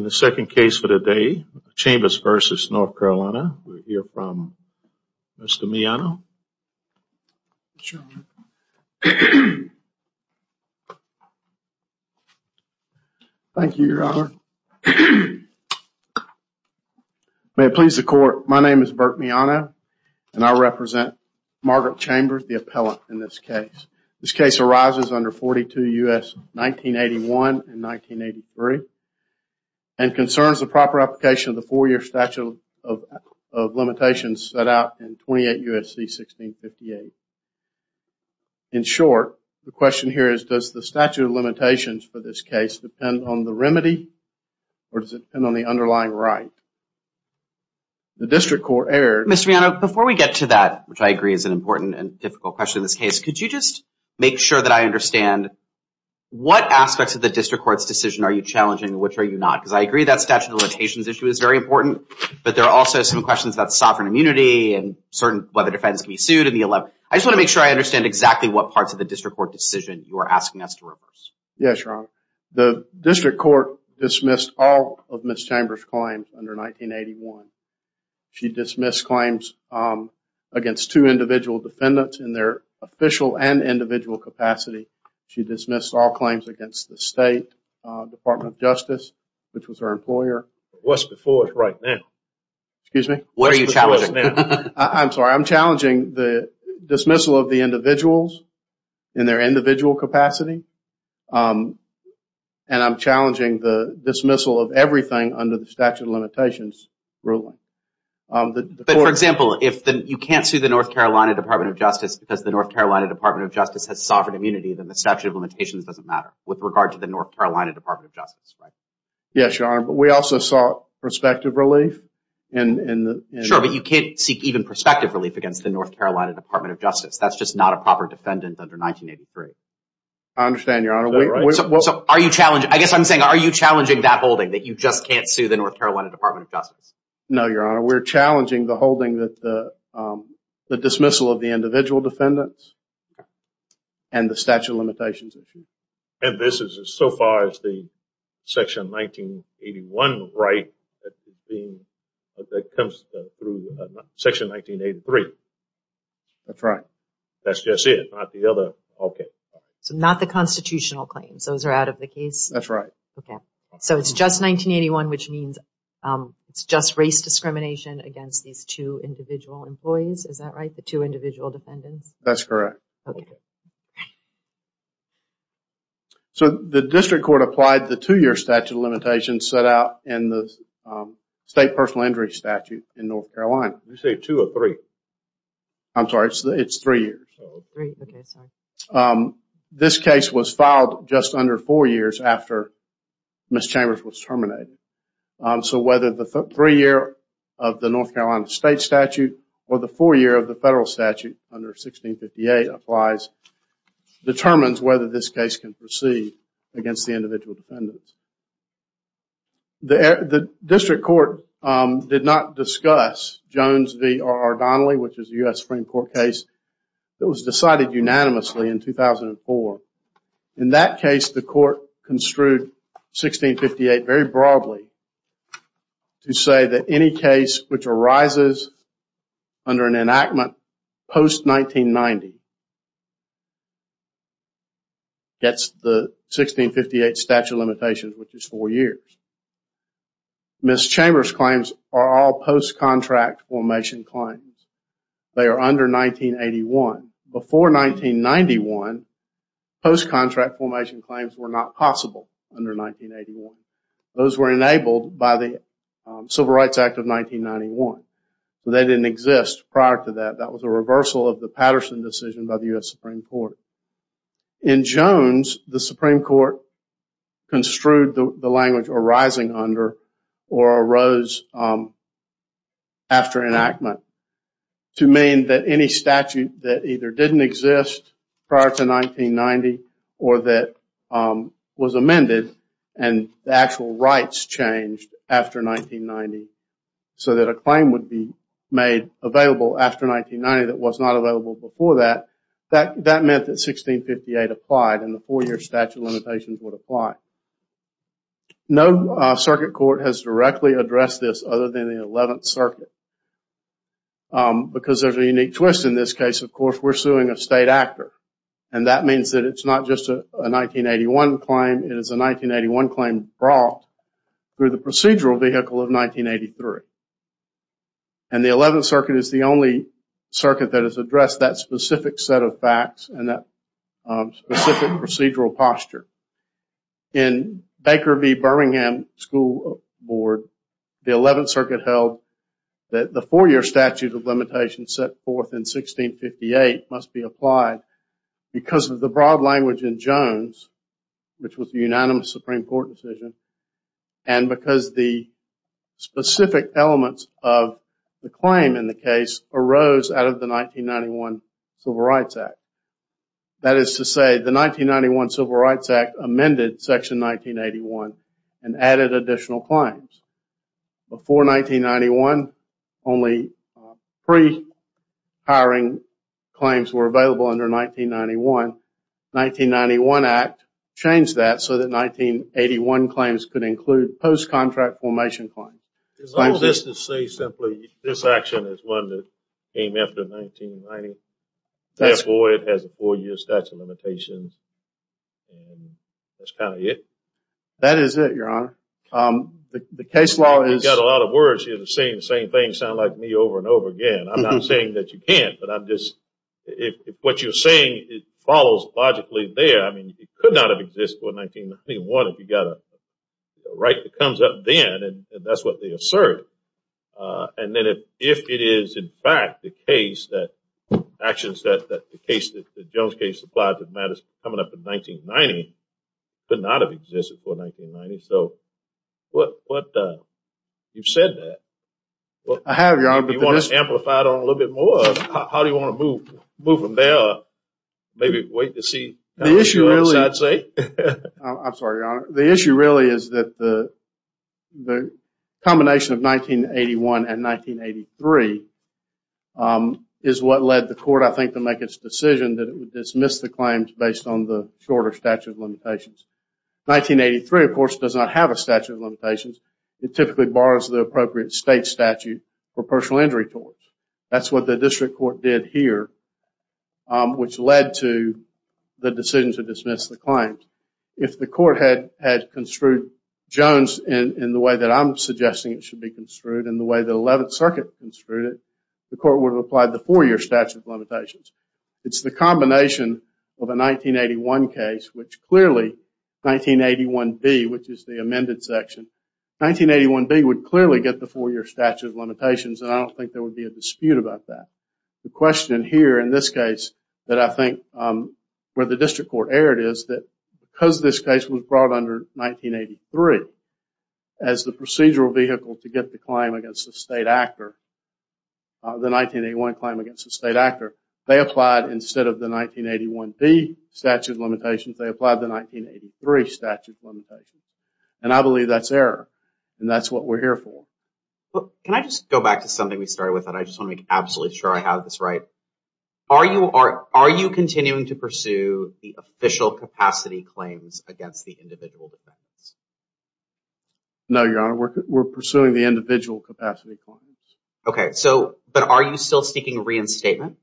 In the second case for today, Chambers v. North Carolina, we'll hear from Mr. Miano. Thank you, Your Honor. May it please the Court, my name is Burt Miano, and I represent Margaret Chambers, the appellant in this case. This case arises under 42 U.S. 1981 and 1983 and concerns the proper application of the four-year statute of limitations set out in 28 U.S.C. 1658. In short, the question here is, does the statute of limitations for this case depend on the remedy or does it depend on the underlying right? The District Court erred. Mr. Miano, before we get to that, which I agree is an important and difficult question in this case. Could you just make sure that I understand what aspects of the District Court's decision are you challenging and which are you not? Because I agree that statute of limitations issue is very important, but there are also some questions about sovereign immunity and whether defendants can be sued in the 11th. I just want to make sure I understand exactly what parts of the District Court decision you are asking us to reverse. Yes, Your Honor. The District Court dismissed all of Ms. Chambers' claims under 1981. She dismissed claims against two individual defendants in their official and individual capacity. She dismissed all claims against the State Department of Justice, which was her employer. What's before us right now? Excuse me? What are you challenging? I'm sorry. I'm challenging the dismissal of the individuals in their individual capacity and I'm challenging the dismissal of everything under the statute of limitations ruling. But, for example, if you can't sue the North Carolina Department of Justice because the North Carolina Department of Justice has sovereign immunity, then the statute of limitations doesn't matter with regard to the North Carolina Department of Justice, right? Yes, Your Honor. But we also sought prospective relief in the... Sure, but you can't seek even prospective relief against the North Carolina Department of Justice. That's just not a proper defendant under 1983. I understand, Your Honor. I guess I'm saying, are you challenging that holding that you just can't sue the North Carolina Department of Justice? No, Your Honor. We're challenging the holding that the dismissal of the individual defendants and the statute of limitations issue. And this is so far as the Section 1981 right that comes through Section 1983? That's right. That's just it? Not the other? Okay. So, not the constitutional claims. Those are out of the case? That's right. Okay. So, it's just 1981, which means it's just race discrimination against these two individual employees. Is that right? The two individual defendants? That's correct. Okay. So, the district court applied the two-year statute of limitations set out in the State Personal Injury Statute in North Carolina. Did you say two or three? I'm sorry. It's three years. Three. Okay. Sorry. This case was filed just under four years after Ms. Chambers was terminated. So, whether the three-year of the North Carolina state statute or the four-year of the federal statute under 1658 applies determines whether this case can proceed against the individual defendants. The district court did not discuss Jones v. R. Ardonalee, which is a U.S. Supreme Court case that was decided unanimously in 2004. In that case, the court construed 1658 very broadly to say that any case which arises under an enactment post-1990 gets the 1658 statute of limitations, which is four years. Ms. Chambers' claims are all post-contract formation claims. They are under 1981. Before 1991, post-contract formation claims were not possible under 1981. Those were enabled by the Civil Rights Act of 1991. They didn't exist prior to that. That was a reversal of the Patterson decision by the U.S. Supreme Court. In Jones, the Supreme Court construed the language arising under or arose after enactment to mean that any statute that either didn't exist prior to 1990 or that was amended and the actual rights changed after 1990 so that a claim would be made available after 1990 that was not available before that. That meant that 1658 applied and the four-year statute of limitations would apply. No circuit court has directly addressed this other than the 11th Circuit because there is a unique twist in this case. Of course, we are suing a state actor. That means that it is not just a 1981 claim. It is a 1981 claim brought through the procedural vehicle of 1983. The 11th Circuit is the only circuit that has addressed that specific set of facts and that specific procedural posture. In Baker v. Birmingham School Board, the 11th Circuit held that the four-year statute of limitations set forth in 1658 must be applied because of the broad language in Jones, which elements of the claim in the case arose out of the 1991 Civil Rights Act. That is to say, the 1991 Civil Rights Act amended Section 1981 and added additional claims. Before 1991, only pre-hiring claims were available under 1991. The 1991 Act changed that so that 1981 claims could include post-contract formation claims. Is all of this to say simply that this action is one that came after 1991? Therefore, it has a four-year statute of limitations. That is kind of it? That is it, Your Honor. The case law is... You have a lot of words here saying the same thing over and over again. I am not saying that you can't. If what you are saying follows logically there, it could not have existed before 1991 if you were to assert. If it is in fact the case that the Jones case applied to matters coming up in 1990, it could not have existed before 1990. You have said that. I have, Your Honor. If you want to amplify it a little bit more, how do you want to move from there? Maybe wait to see what the other side says? I am sorry, Your Honor. The issue really is that the combination of 1981 and 1983 is what led the court, I think, to make its decision that it would dismiss the claims based on the shorter statute of limitations. 1983, of course, does not have a statute of limitations. It typically borrows the appropriate state statute for personal injury torts. That is what the district court did here, which led to the decision to dismiss the claims. If the court had construed Jones in the way that I am suggesting it should be construed and the way the Eleventh Circuit construed it, the court would have applied the four-year statute of limitations. It is the combination of a 1981 case, which clearly, 1981B, which is the amended section, 1981B would clearly get the four-year statute of limitations. I don't think there would be a dispute about that. The question here in this case that I think where the district court erred is that because this case was brought under 1983 as the procedural vehicle to get the claim against the state actor, the 1981 claim against the state actor, they applied instead of the 1981B statute of limitations, they applied the 1983 statute of limitations. I believe that is error. That is what we are here for. Can I just go back to something we started with? I just want to make absolutely sure I have this right. Are you continuing to pursue the official capacity claims against the individual defendants? No, Your Honor. We are pursuing the individual capacity claims. Okay. But are you still seeking reinstatement?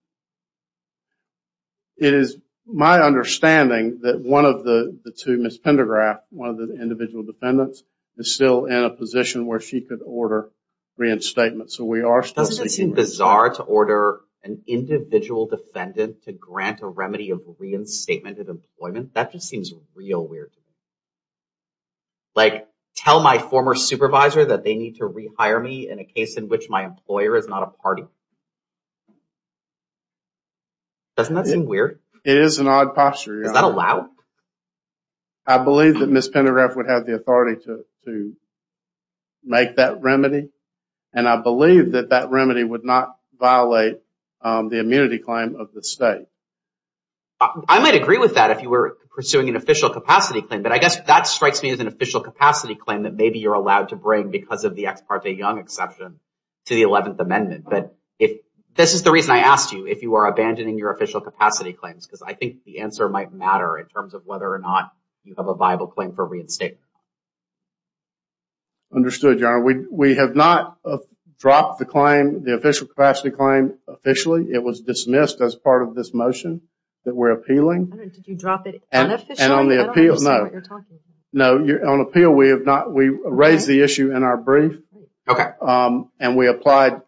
It is my understanding that one of the two, Ms. Pendergraft, one of the individual defendants, is still in a position where she could order reinstatement. So we are still seeking reinstatement. Doesn't it seem bizarre to order an individual defendant to grant a remedy of reinstatement of employment? That just seems real weird to me. Like, tell my former supervisor that they need to rehire me in a case in which my employer is not a party. Doesn't that seem weird? It is an odd posture, Your Honor. Is that allowed? I believe that Ms. Pendergraft would have the authority to make that remedy. And I believe that that remedy would not violate the immunity claim of the state. I might agree with that if you were pursuing an official capacity claim, but I guess that strikes me as an official capacity claim that maybe you're allowed to bring because of the ex parte Young exception to the 11th Amendment. But this is the reason I asked you if you are abandoning your official capacity claims, because I think the answer might matter in terms of whether or not you have a viable claim for reinstatement. Understood, Your Honor. We have not dropped the claim, the official capacity claim, officially. It was dismissed as part of this motion that we're appealing. Did you drop it unofficially? And on the appeal, no. I don't understand what you're talking about. No, on appeal we have not. We raised the issue in our brief. Okay. And we applied,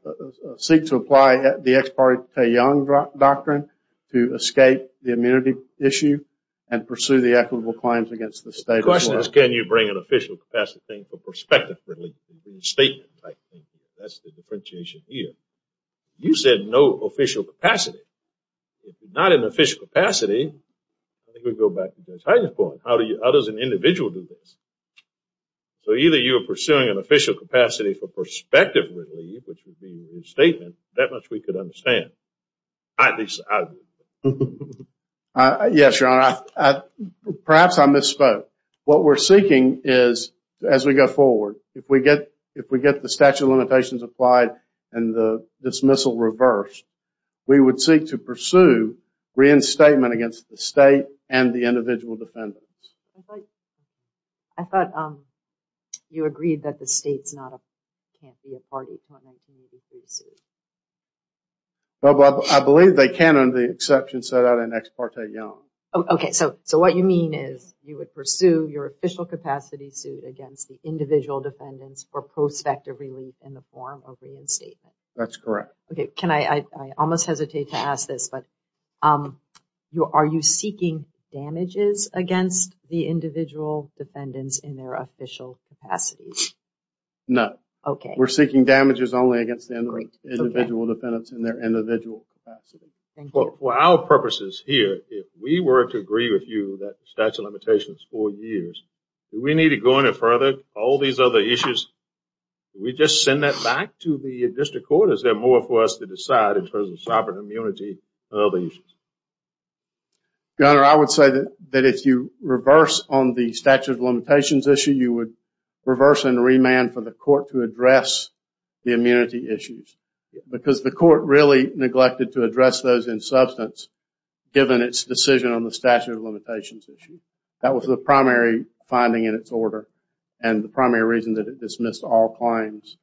seek to apply the ex parte Young doctrine to escape the immunity issue and pursue the equitable claims against the state of Florida. Can you bring an official capacity claim for prospective relief, a reinstatement type claim? That's the differentiation here. You said no official capacity. If not an official capacity, I think we go back to Judge Hyden's point. How does an individual do this? So either you are pursuing an official capacity for prospective relief, which would be a reinstatement, I disagree. Yes, Your Honor. Perhaps I misspoke. What we're seeking is, as we go forward, if we get the statute of limitations applied and the dismissal reversed, we would seek to pursue reinstatement against the state and the individual defendants. I thought you agreed that the state can't be a party to an immunity suit. I believe they can on the exception set out in ex parte Young. Okay. So what you mean is you would pursue your official capacity suit against the individual defendants for prospective relief in the form of reinstatement? That's correct. Okay. I almost hesitate to ask this, but are you seeking damages against the individual defendants in their official capacity? No. Okay. We're seeking damages only against the individual defendants in their individual capacity. Thank you. For our purposes here, if we were to agree with you that the statute of limitations is four years, do we need to go any further? All these other issues, do we just send that back to the district court? Is there more for us to decide in terms of sovereign immunity and other issues? Your Honor, I would say that if you reverse on the statute of limitations issue, you would reverse and remand for the court to address the immunity issues because the court really neglected to address those in substance given its decision on the statute of limitations issue. That was the primary finding in its order and the primary reason that it dismissed all claims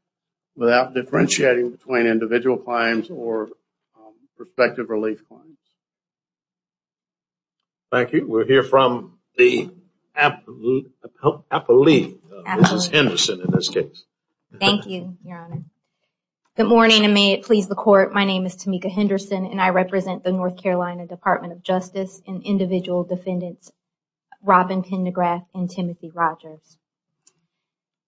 without differentiating between individual claims or prospective relief claims. Thank you. We'll hear from the appellee, Mrs. Henderson, in this case. Thank you, Your Honor. Good morning and may it please the court. My name is Tamika Henderson and I represent the North Carolina Department of Justice and individual defendants Robin Pendergraft and Timothy Rogers.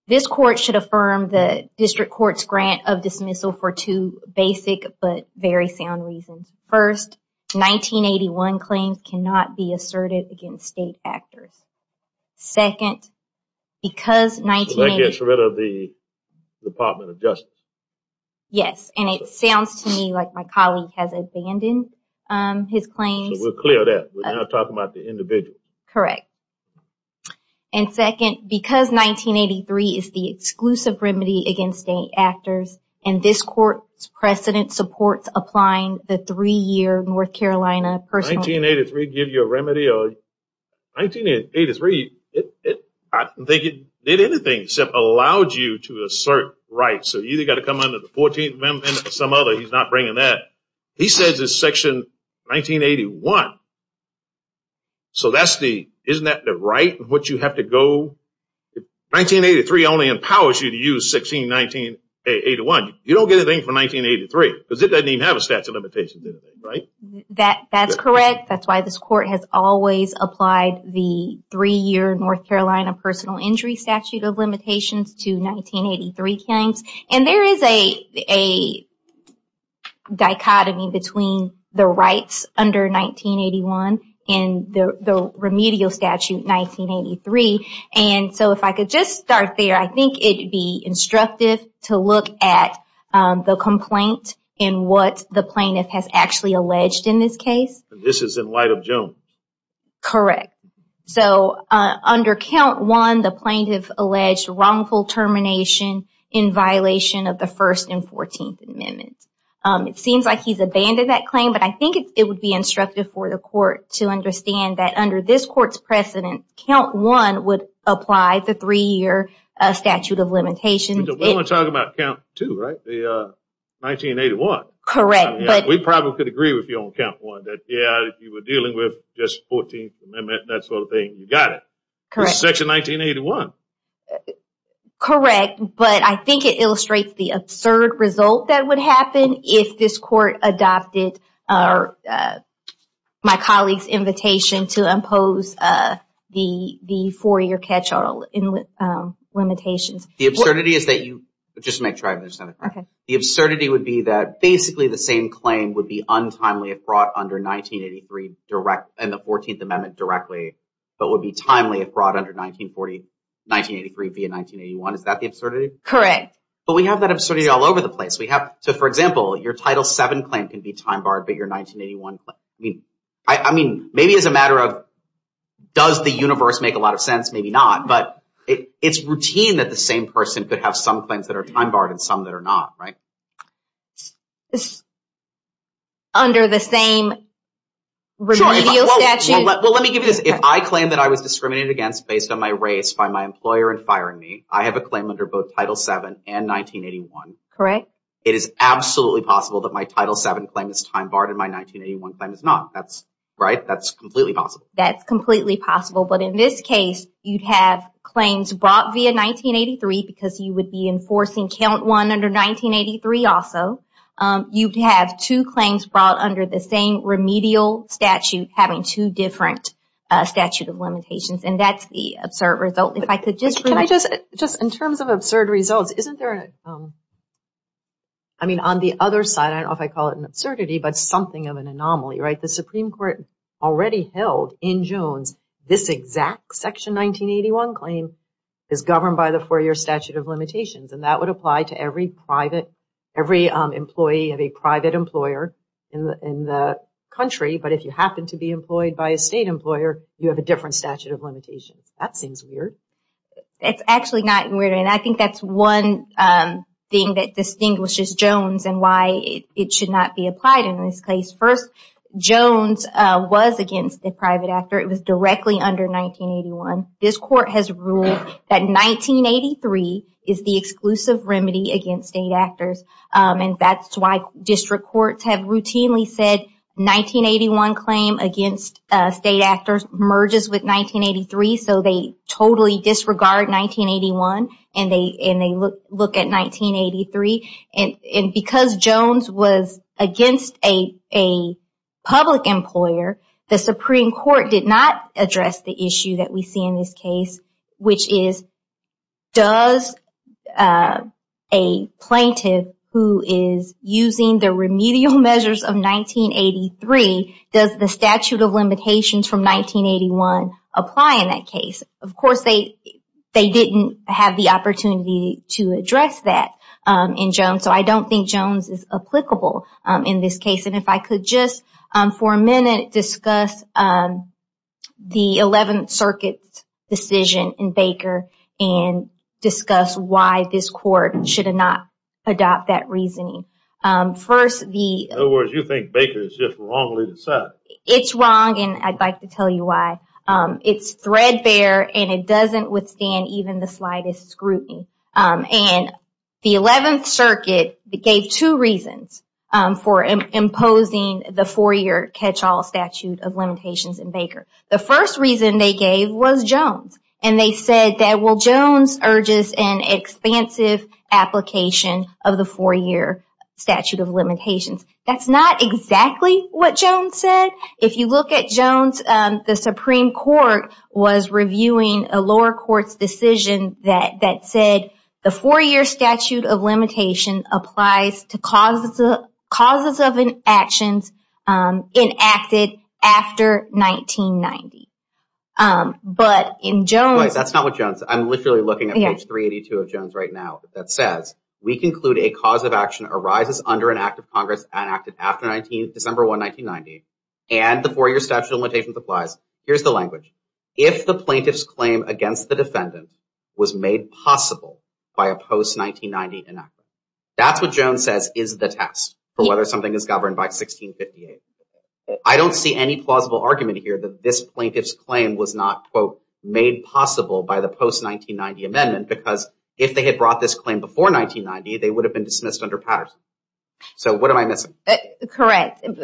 This court should affirm the district court's grant of dismissal for two basic but very sound reasons. First, 1981 claims cannot be asserted against state actors. Second, because 19… That gets rid of the Department of Justice. Yes, and it sounds to me like my colleague has abandoned his claims. We're clear of that. We're not talking about the individual. Correct. And second, because 1983 is the exclusive remedy against state actors and this court's applying the three-year North Carolina… 1983 gives you a remedy? 1983, I don't think it did anything except allowed you to assert rights. So you either got to come under the 14th Amendment or some other. He's not bringing that. He says it's Section 1981. So that's the… Isn't that the right in which you have to go? 1983 only empowers you to use 161981. You don't get anything from 1983 because it doesn't even have a statute of limitations, does it? Right? That's correct. That's why this court has always applied the three-year North Carolina personal injury statute of limitations to 1983 claims. And there is a dichotomy between the rights under 1981 and the remedial statute 1983. And so if I could just start there, I think it would be instructive to look at the complaint and what the plaintiff has actually alleged in this case. This is in light of Jones. Correct. So under count one, the plaintiff alleged wrongful termination in violation of the 1st and 14th Amendments. It seems like he's abandoned that claim, but I think it would be instructive for the apply the three-year statute of limitations. We want to talk about count two, right? The 1981. Correct. We probably could agree with you on count one that, yeah, you were dealing with just 14th Amendment and that sort of thing. You got it. Correct. Section 1981. Correct. But I think it illustrates the absurd result that would happen if this court adopted my four-year catch-all limitations. The absurdity is that you... Just to make sure I understand it correctly. The absurdity would be that basically the same claim would be untimely if brought under 1983 and the 14th Amendment directly, but would be timely if brought under 1983 via 1981. Is that the absurdity? Correct. But we have that absurdity all over the place. We have... So for example, your Title VII claim can be time-barred, but your 1981 claim... Maybe it's a matter of does the universe make a lot of sense? Maybe not, but it's routine that the same person could have some claims that are time-barred and some that are not, right? Under the same remedial statute? Well, let me give you this. If I claim that I was discriminated against based on my race by my employer in firing me, I have a claim under both Title VII and 1981. Correct. But it is absolutely possible that my Title VII claim is time-barred and my 1981 claim is not. Right? That's completely possible. That's completely possible. But in this case, you'd have claims brought via 1983 because you would be enforcing Count 1 under 1983 also. You'd have two claims brought under the same remedial statute having two different statute of limitations, and that's the absurd result. If I could just... Just in terms of absurd results, isn't there... I mean, on the other side, I don't know if I call it an absurdity, but something of an anomaly, right? The Supreme Court already held in Jones this exact Section 1981 claim is governed by the four-year statute of limitations, and that would apply to every private... every employee of a private employer in the country, but if you happen to be employed by a state employer, you have a different statute of limitations. That seems weird. It's actually not weird, and I think that's one thing that distinguishes Jones and why it should not be applied in this case. First, Jones was against the private actor. It was directly under 1981. This Court has ruled that 1983 is the exclusive remedy against state actors, and that's why district courts have routinely said 1981 claim against state actors merges with 1983, so they totally disregard 1981, and they look at 1983. And because Jones was against a public employer, the Supreme Court did not address the issue that we see in this case, which is, does a plaintiff who is using the remedial measures of 1983, does the statute of limitations from 1981 apply in that case? Of course, they didn't have the opportunity to address that in Jones, so I don't think Jones is applicable in this case, and if I could just, for a minute, discuss the 11th Circuit's decision in Baker and discuss why this Court should not adopt that reasoning. In other words, you think Baker is just wrongly decided. It's wrong, and I'd like to tell you why. It's threadbare, and it doesn't withstand even the slightest scrutiny, and the 11th Circuit gave two reasons for imposing the four-year catch-all statute of limitations in Baker. The first reason they gave was Jones, and they said that, well, Jones urges an expansive application of the four-year statute of limitations. That's not exactly what Jones said. If you look at Jones, the Supreme Court was reviewing a lower court's decision that said the four-year statute of limitation applies to causes of actions enacted after 1990. But in Jones... Right, that's not what Jones... I'm literally looking at page 382 of Jones right now that says, we conclude a cause of action arises under an act of Congress enacted after December 1, 1990, and the four-year statute of limitations applies. Here's the language. If the plaintiff's claim against the defendant was made possible by a post-1990 enactment, that's what Jones says is the test for whether something is governed by 1658. I don't see any plausible argument here that this plaintiff's claim was not, quote, made possible by the post-1990 amendment, because if they had brought this claim before 1990, they would have been dismissed under Patterson. So what am I missing? Correct. And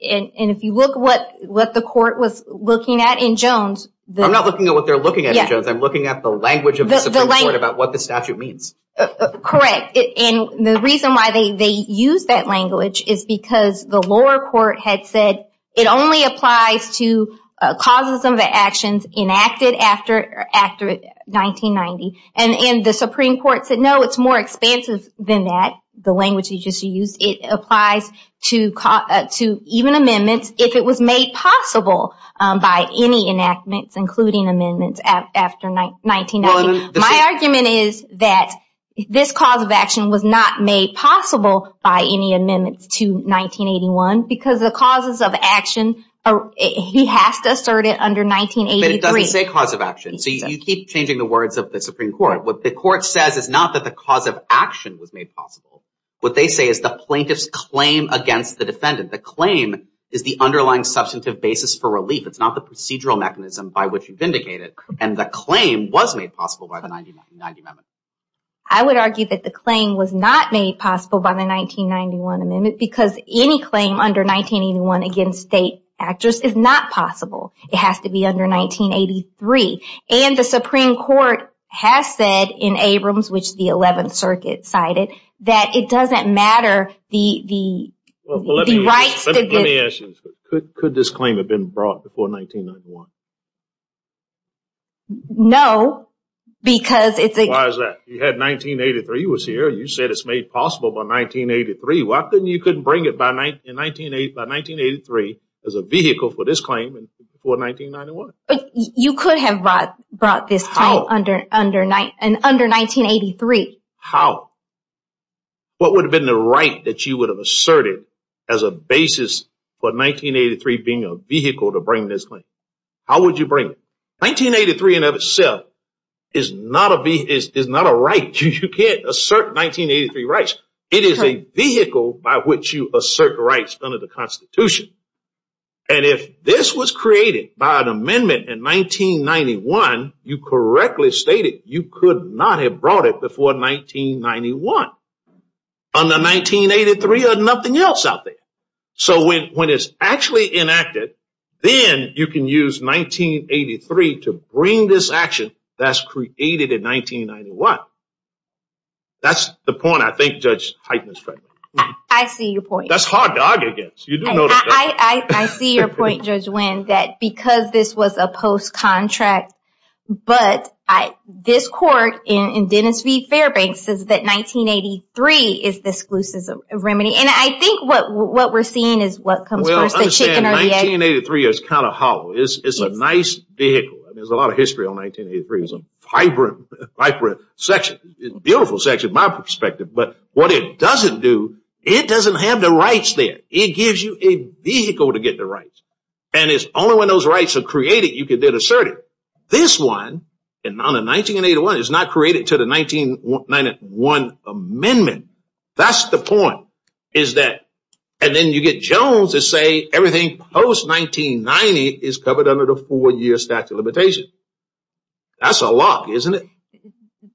if you look at what the court was looking at in Jones... I'm not looking at what they're looking at in Jones. I'm looking at the language of the Supreme Court about what the statute means. Correct. And the reason why they used that language is because the lower court had said it only applies to causes of actions enacted after 1990, and the Supreme Court said, no, it's more expansive than that, the language you just used. It applies to even amendments if it was made possible by any enactments, including amendments after 1990. My argument is that this cause of action was not made possible by any amendments to 1981 because the causes of action, he has to assert it under 1983. But it doesn't say cause of action. So you keep changing the words of the Supreme Court. What the court says is not that the cause of action was made possible. What they say is the plaintiff's claim against the defendant. The claim is the underlying substantive basis for relief. It's not the procedural mechanism by which you vindicate it. And the claim was made possible by the 1990 amendment. I would argue that the claim was not made possible by the 1991 amendment because any claim under 1981 against state actors is not possible. It has to be under 1983. And the Supreme Court has said in Abrams, which the 11th Circuit cited, that it doesn't matter the rights that the... Let me ask you this. Could this claim have been brought before 1991? No, because it's... Why is that? You had 1983 was here. You said it's made possible by 1983. Why couldn't you bring it by 1983 as a vehicle for this claim before 1991? You could have brought this claim under 1983. How? What would have been the right that you would have asserted as a basis for 1983 being a vehicle to bring this claim? How would you bring it? 1983 in and of itself is not a right. You can't assert 1983 rights. It is a vehicle by which you assert rights under the Constitution. And if this was created by an amendment in 1991, you correctly stated you could not have brought it before 1991. Under 1983, there's nothing else out there. So when it's actually enacted, then you can use 1983 to bring this action that's created in 1991. That's the point I think Judge Heitner is trying to make. I see your point. That's hard to argue against. You do know this, don't you? I see your point, Judge Wynn, that because this was a post-contract, but this court in 1983 is kind of hollow. It's a nice vehicle. There's a lot of history on 1983. It's a vibrant section. It's a beautiful section in my perspective. But what it doesn't do, it doesn't have the rights there. It gives you a vehicle to get the rights. And it's only when those rights are created you can then assert it. This one, under 1981, is not created until the 1991 amendment. That's the point. And then you get Jones to say everything post-1990 is covered under the four-year statute of limitations. That's a lot, isn't it?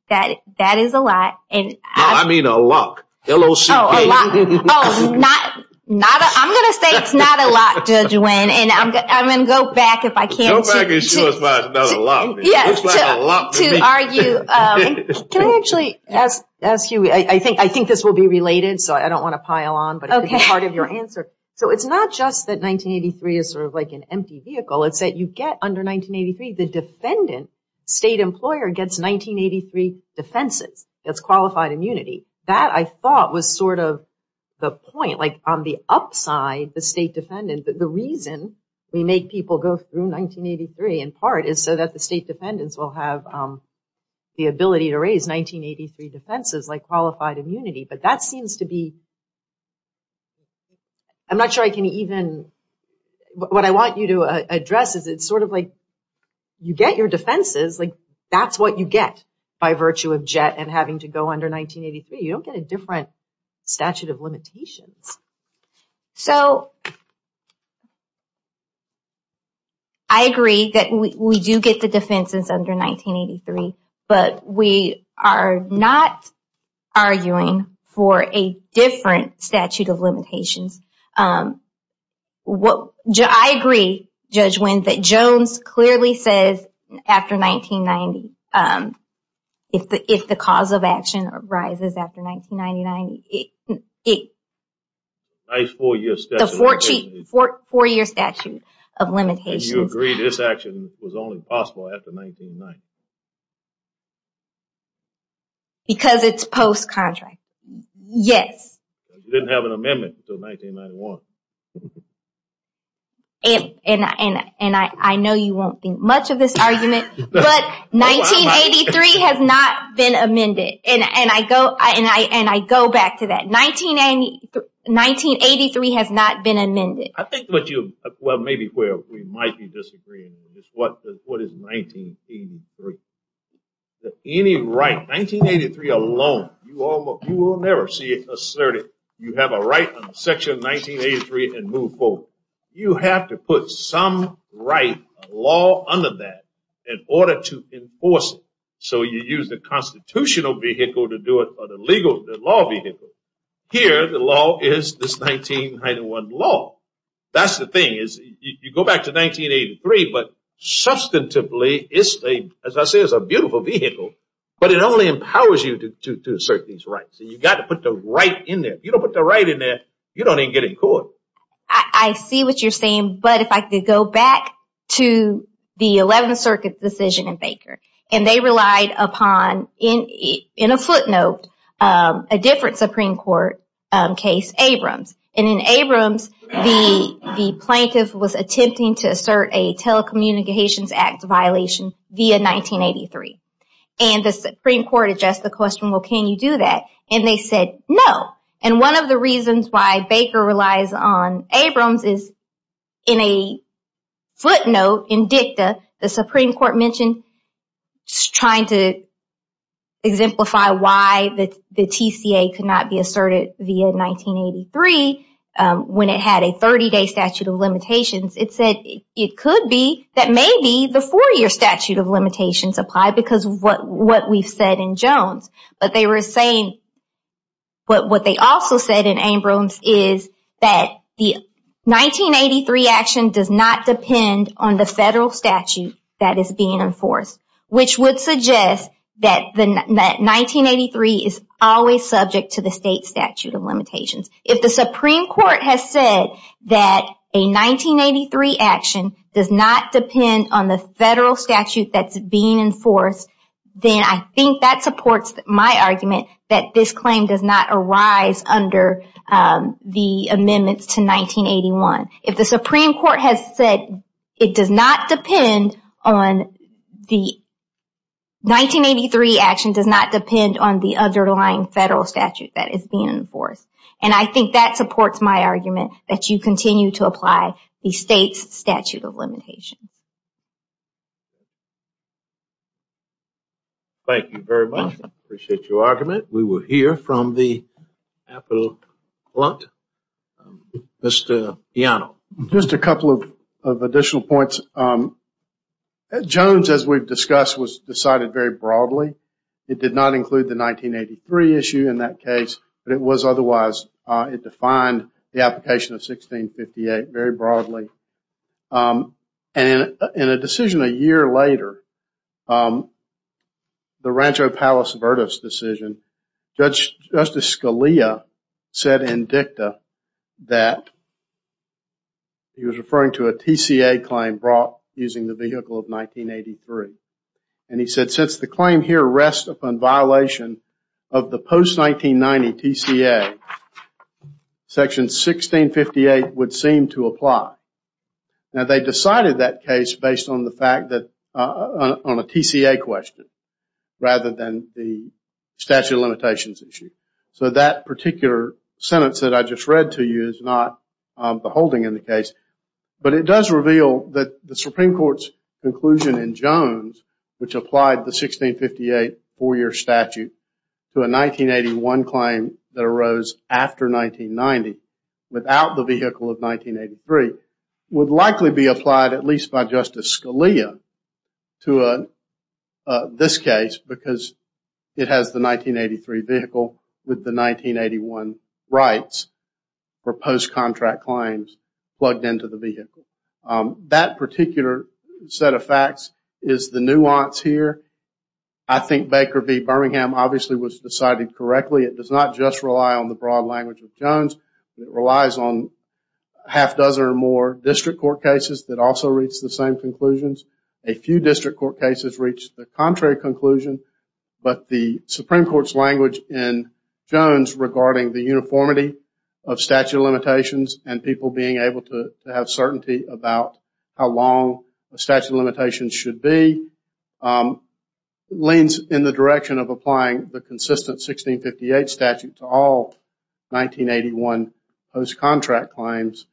That is a lot. No, I mean a lot. L-O-C-P. Oh, a lot. I'm going to say it's not a lot, Judge Wynn. And I'm going to go back if I can. Go back and show us why it's not a lot. It looks like a lot to me. Can I actually ask you? I think this will be related, so I don't want to pile on, but it's part of your answer. So it's not just that 1983 is sort of like an empty vehicle. It's that you get under 1983, the defendant, state employer, gets 1983 defenses. It's qualified immunity. That, I thought, was sort of the point. Like on the upside, the state defendant, the reason we make people go through 1983 in part is so that the state defendants will have the ability to raise 1983 defenses like qualified immunity. But that seems to be, I'm not sure I can even, what I want you to address is it's sort of like you get your defenses, like that's what you get by virtue of JET and having to go under 1983. You don't get a different statute of limitations. So I agree that we do get the defenses under 1983, but we are not arguing for a different statute of limitations. I agree, Judge Wynn, that Jones clearly says after 1990, if the cause of action arises after 1990, it's a four-year statute of limitations. And you agree this action was only possible after 1990? Because it's post-contract. Yes. Because you didn't have an amendment until 1991. And I know you won't think much of this argument, but 1983 has not been amended. And I go back to that. 1983 has not been amended. I think what you, well, maybe where we might be disagreeing is what is 1983? Any right, 1983 alone, you will never see it asserted. You have a right on Section 1983 and move forward. You have to put some right law under that in order to enforce it. So you use the constitutional vehicle to do it or the legal, the law vehicle. Here, the law is this 1991 law. That's the thing. You go back to 1983, but substantively, as I say, it's a beautiful vehicle, but it only empowers you to assert these rights. And you've got to put the right in there. If you don't put the right in there, you don't even get in court. I see what you're saying, but if I could go back to the 11th Circuit decision in Baker, and they relied upon, in a footnote, a different Supreme Court case, Abrams. And in Abrams, the plaintiff was attempting to assert a Telecommunications Act violation via 1983. And the Supreme Court addressed the question, well, can you do that? And they said no. And one of the reasons why Baker relies on Abrams is in a footnote, in dicta, the Supreme Court mentioned trying to exemplify why the TCA could not be asserted via 1983 when it had a 30-day statute of limitations. It said it could be that maybe the four-year statute of limitations applied because of what we've said in Jones. But what they also said in Abrams is that the 1983 action does not depend on the federal statute that is being enforced, which would suggest that 1983 is always subject to the state statute of limitations. If the Supreme Court has said that a 1983 action does not depend on the federal statute that's being enforced, then I think that supports my argument that this claim does not arise under the amendments to 1981. If the Supreme Court has said it does not depend on the – 1983 action does not depend on the underlying federal statute that is being enforced, and I think that supports my argument that you continue to apply the state's statute of limitations. Thank you very much. I appreciate your argument. We will hear from the applicant. Mr. Piano. Just a couple of additional points. Jones, as we've discussed, was decided very broadly. It did not include the 1983 issue in that case, but it was otherwise. It defined the application of 1658 very broadly. And in a decision a year later, the Rancho Palos Verdes decision, Justice Scalia said in dicta that he was referring to a TCA claim brought using the vehicle of 1983. And he said since the claim here rests upon violation of the post-1990 TCA, section 1658 would seem to apply. Now they decided that case based on the fact that – on a TCA question rather than the statute of limitations issue. So that particular sentence that I just read to you is not the holding in the case. But it does reveal that the Supreme Court's conclusion in Jones, which applied the 1658 four-year statute to a 1981 claim that arose after 1990, without the vehicle of 1983, would likely be applied at least by Justice Scalia to this case because it has the 1983 vehicle with the 1981 rights for post-contract claims plugged into the vehicle. That particular set of facts is the nuance here. I think Baker v. Birmingham obviously was decided correctly. It does not just rely on the broad language of Jones. It relies on a half-dozen or more district court cases that also reach the same conclusions. A few district court cases reach the contrary conclusion. But the Supreme Court's language in Jones regarding the uniformity of statute of limitations and people being able to have certainty about how long a statute of limitations should be leans in the direction of applying the consistent 1658 statute to all 1981 post-contract claims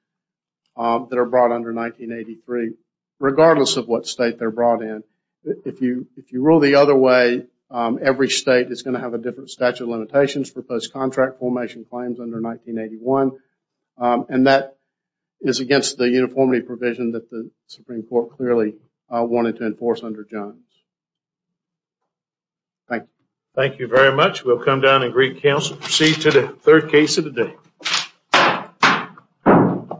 that are brought under 1983. Regardless of what state they're brought in, if you rule the other way, every state is going to have a different statute of limitations for post-contract formation claims under 1981. And that is against the uniformity provision that the Supreme Court clearly wanted to enforce under Jones. Thank you. Thank you very much. We'll come down and greet counsel and proceed to the third case of the day.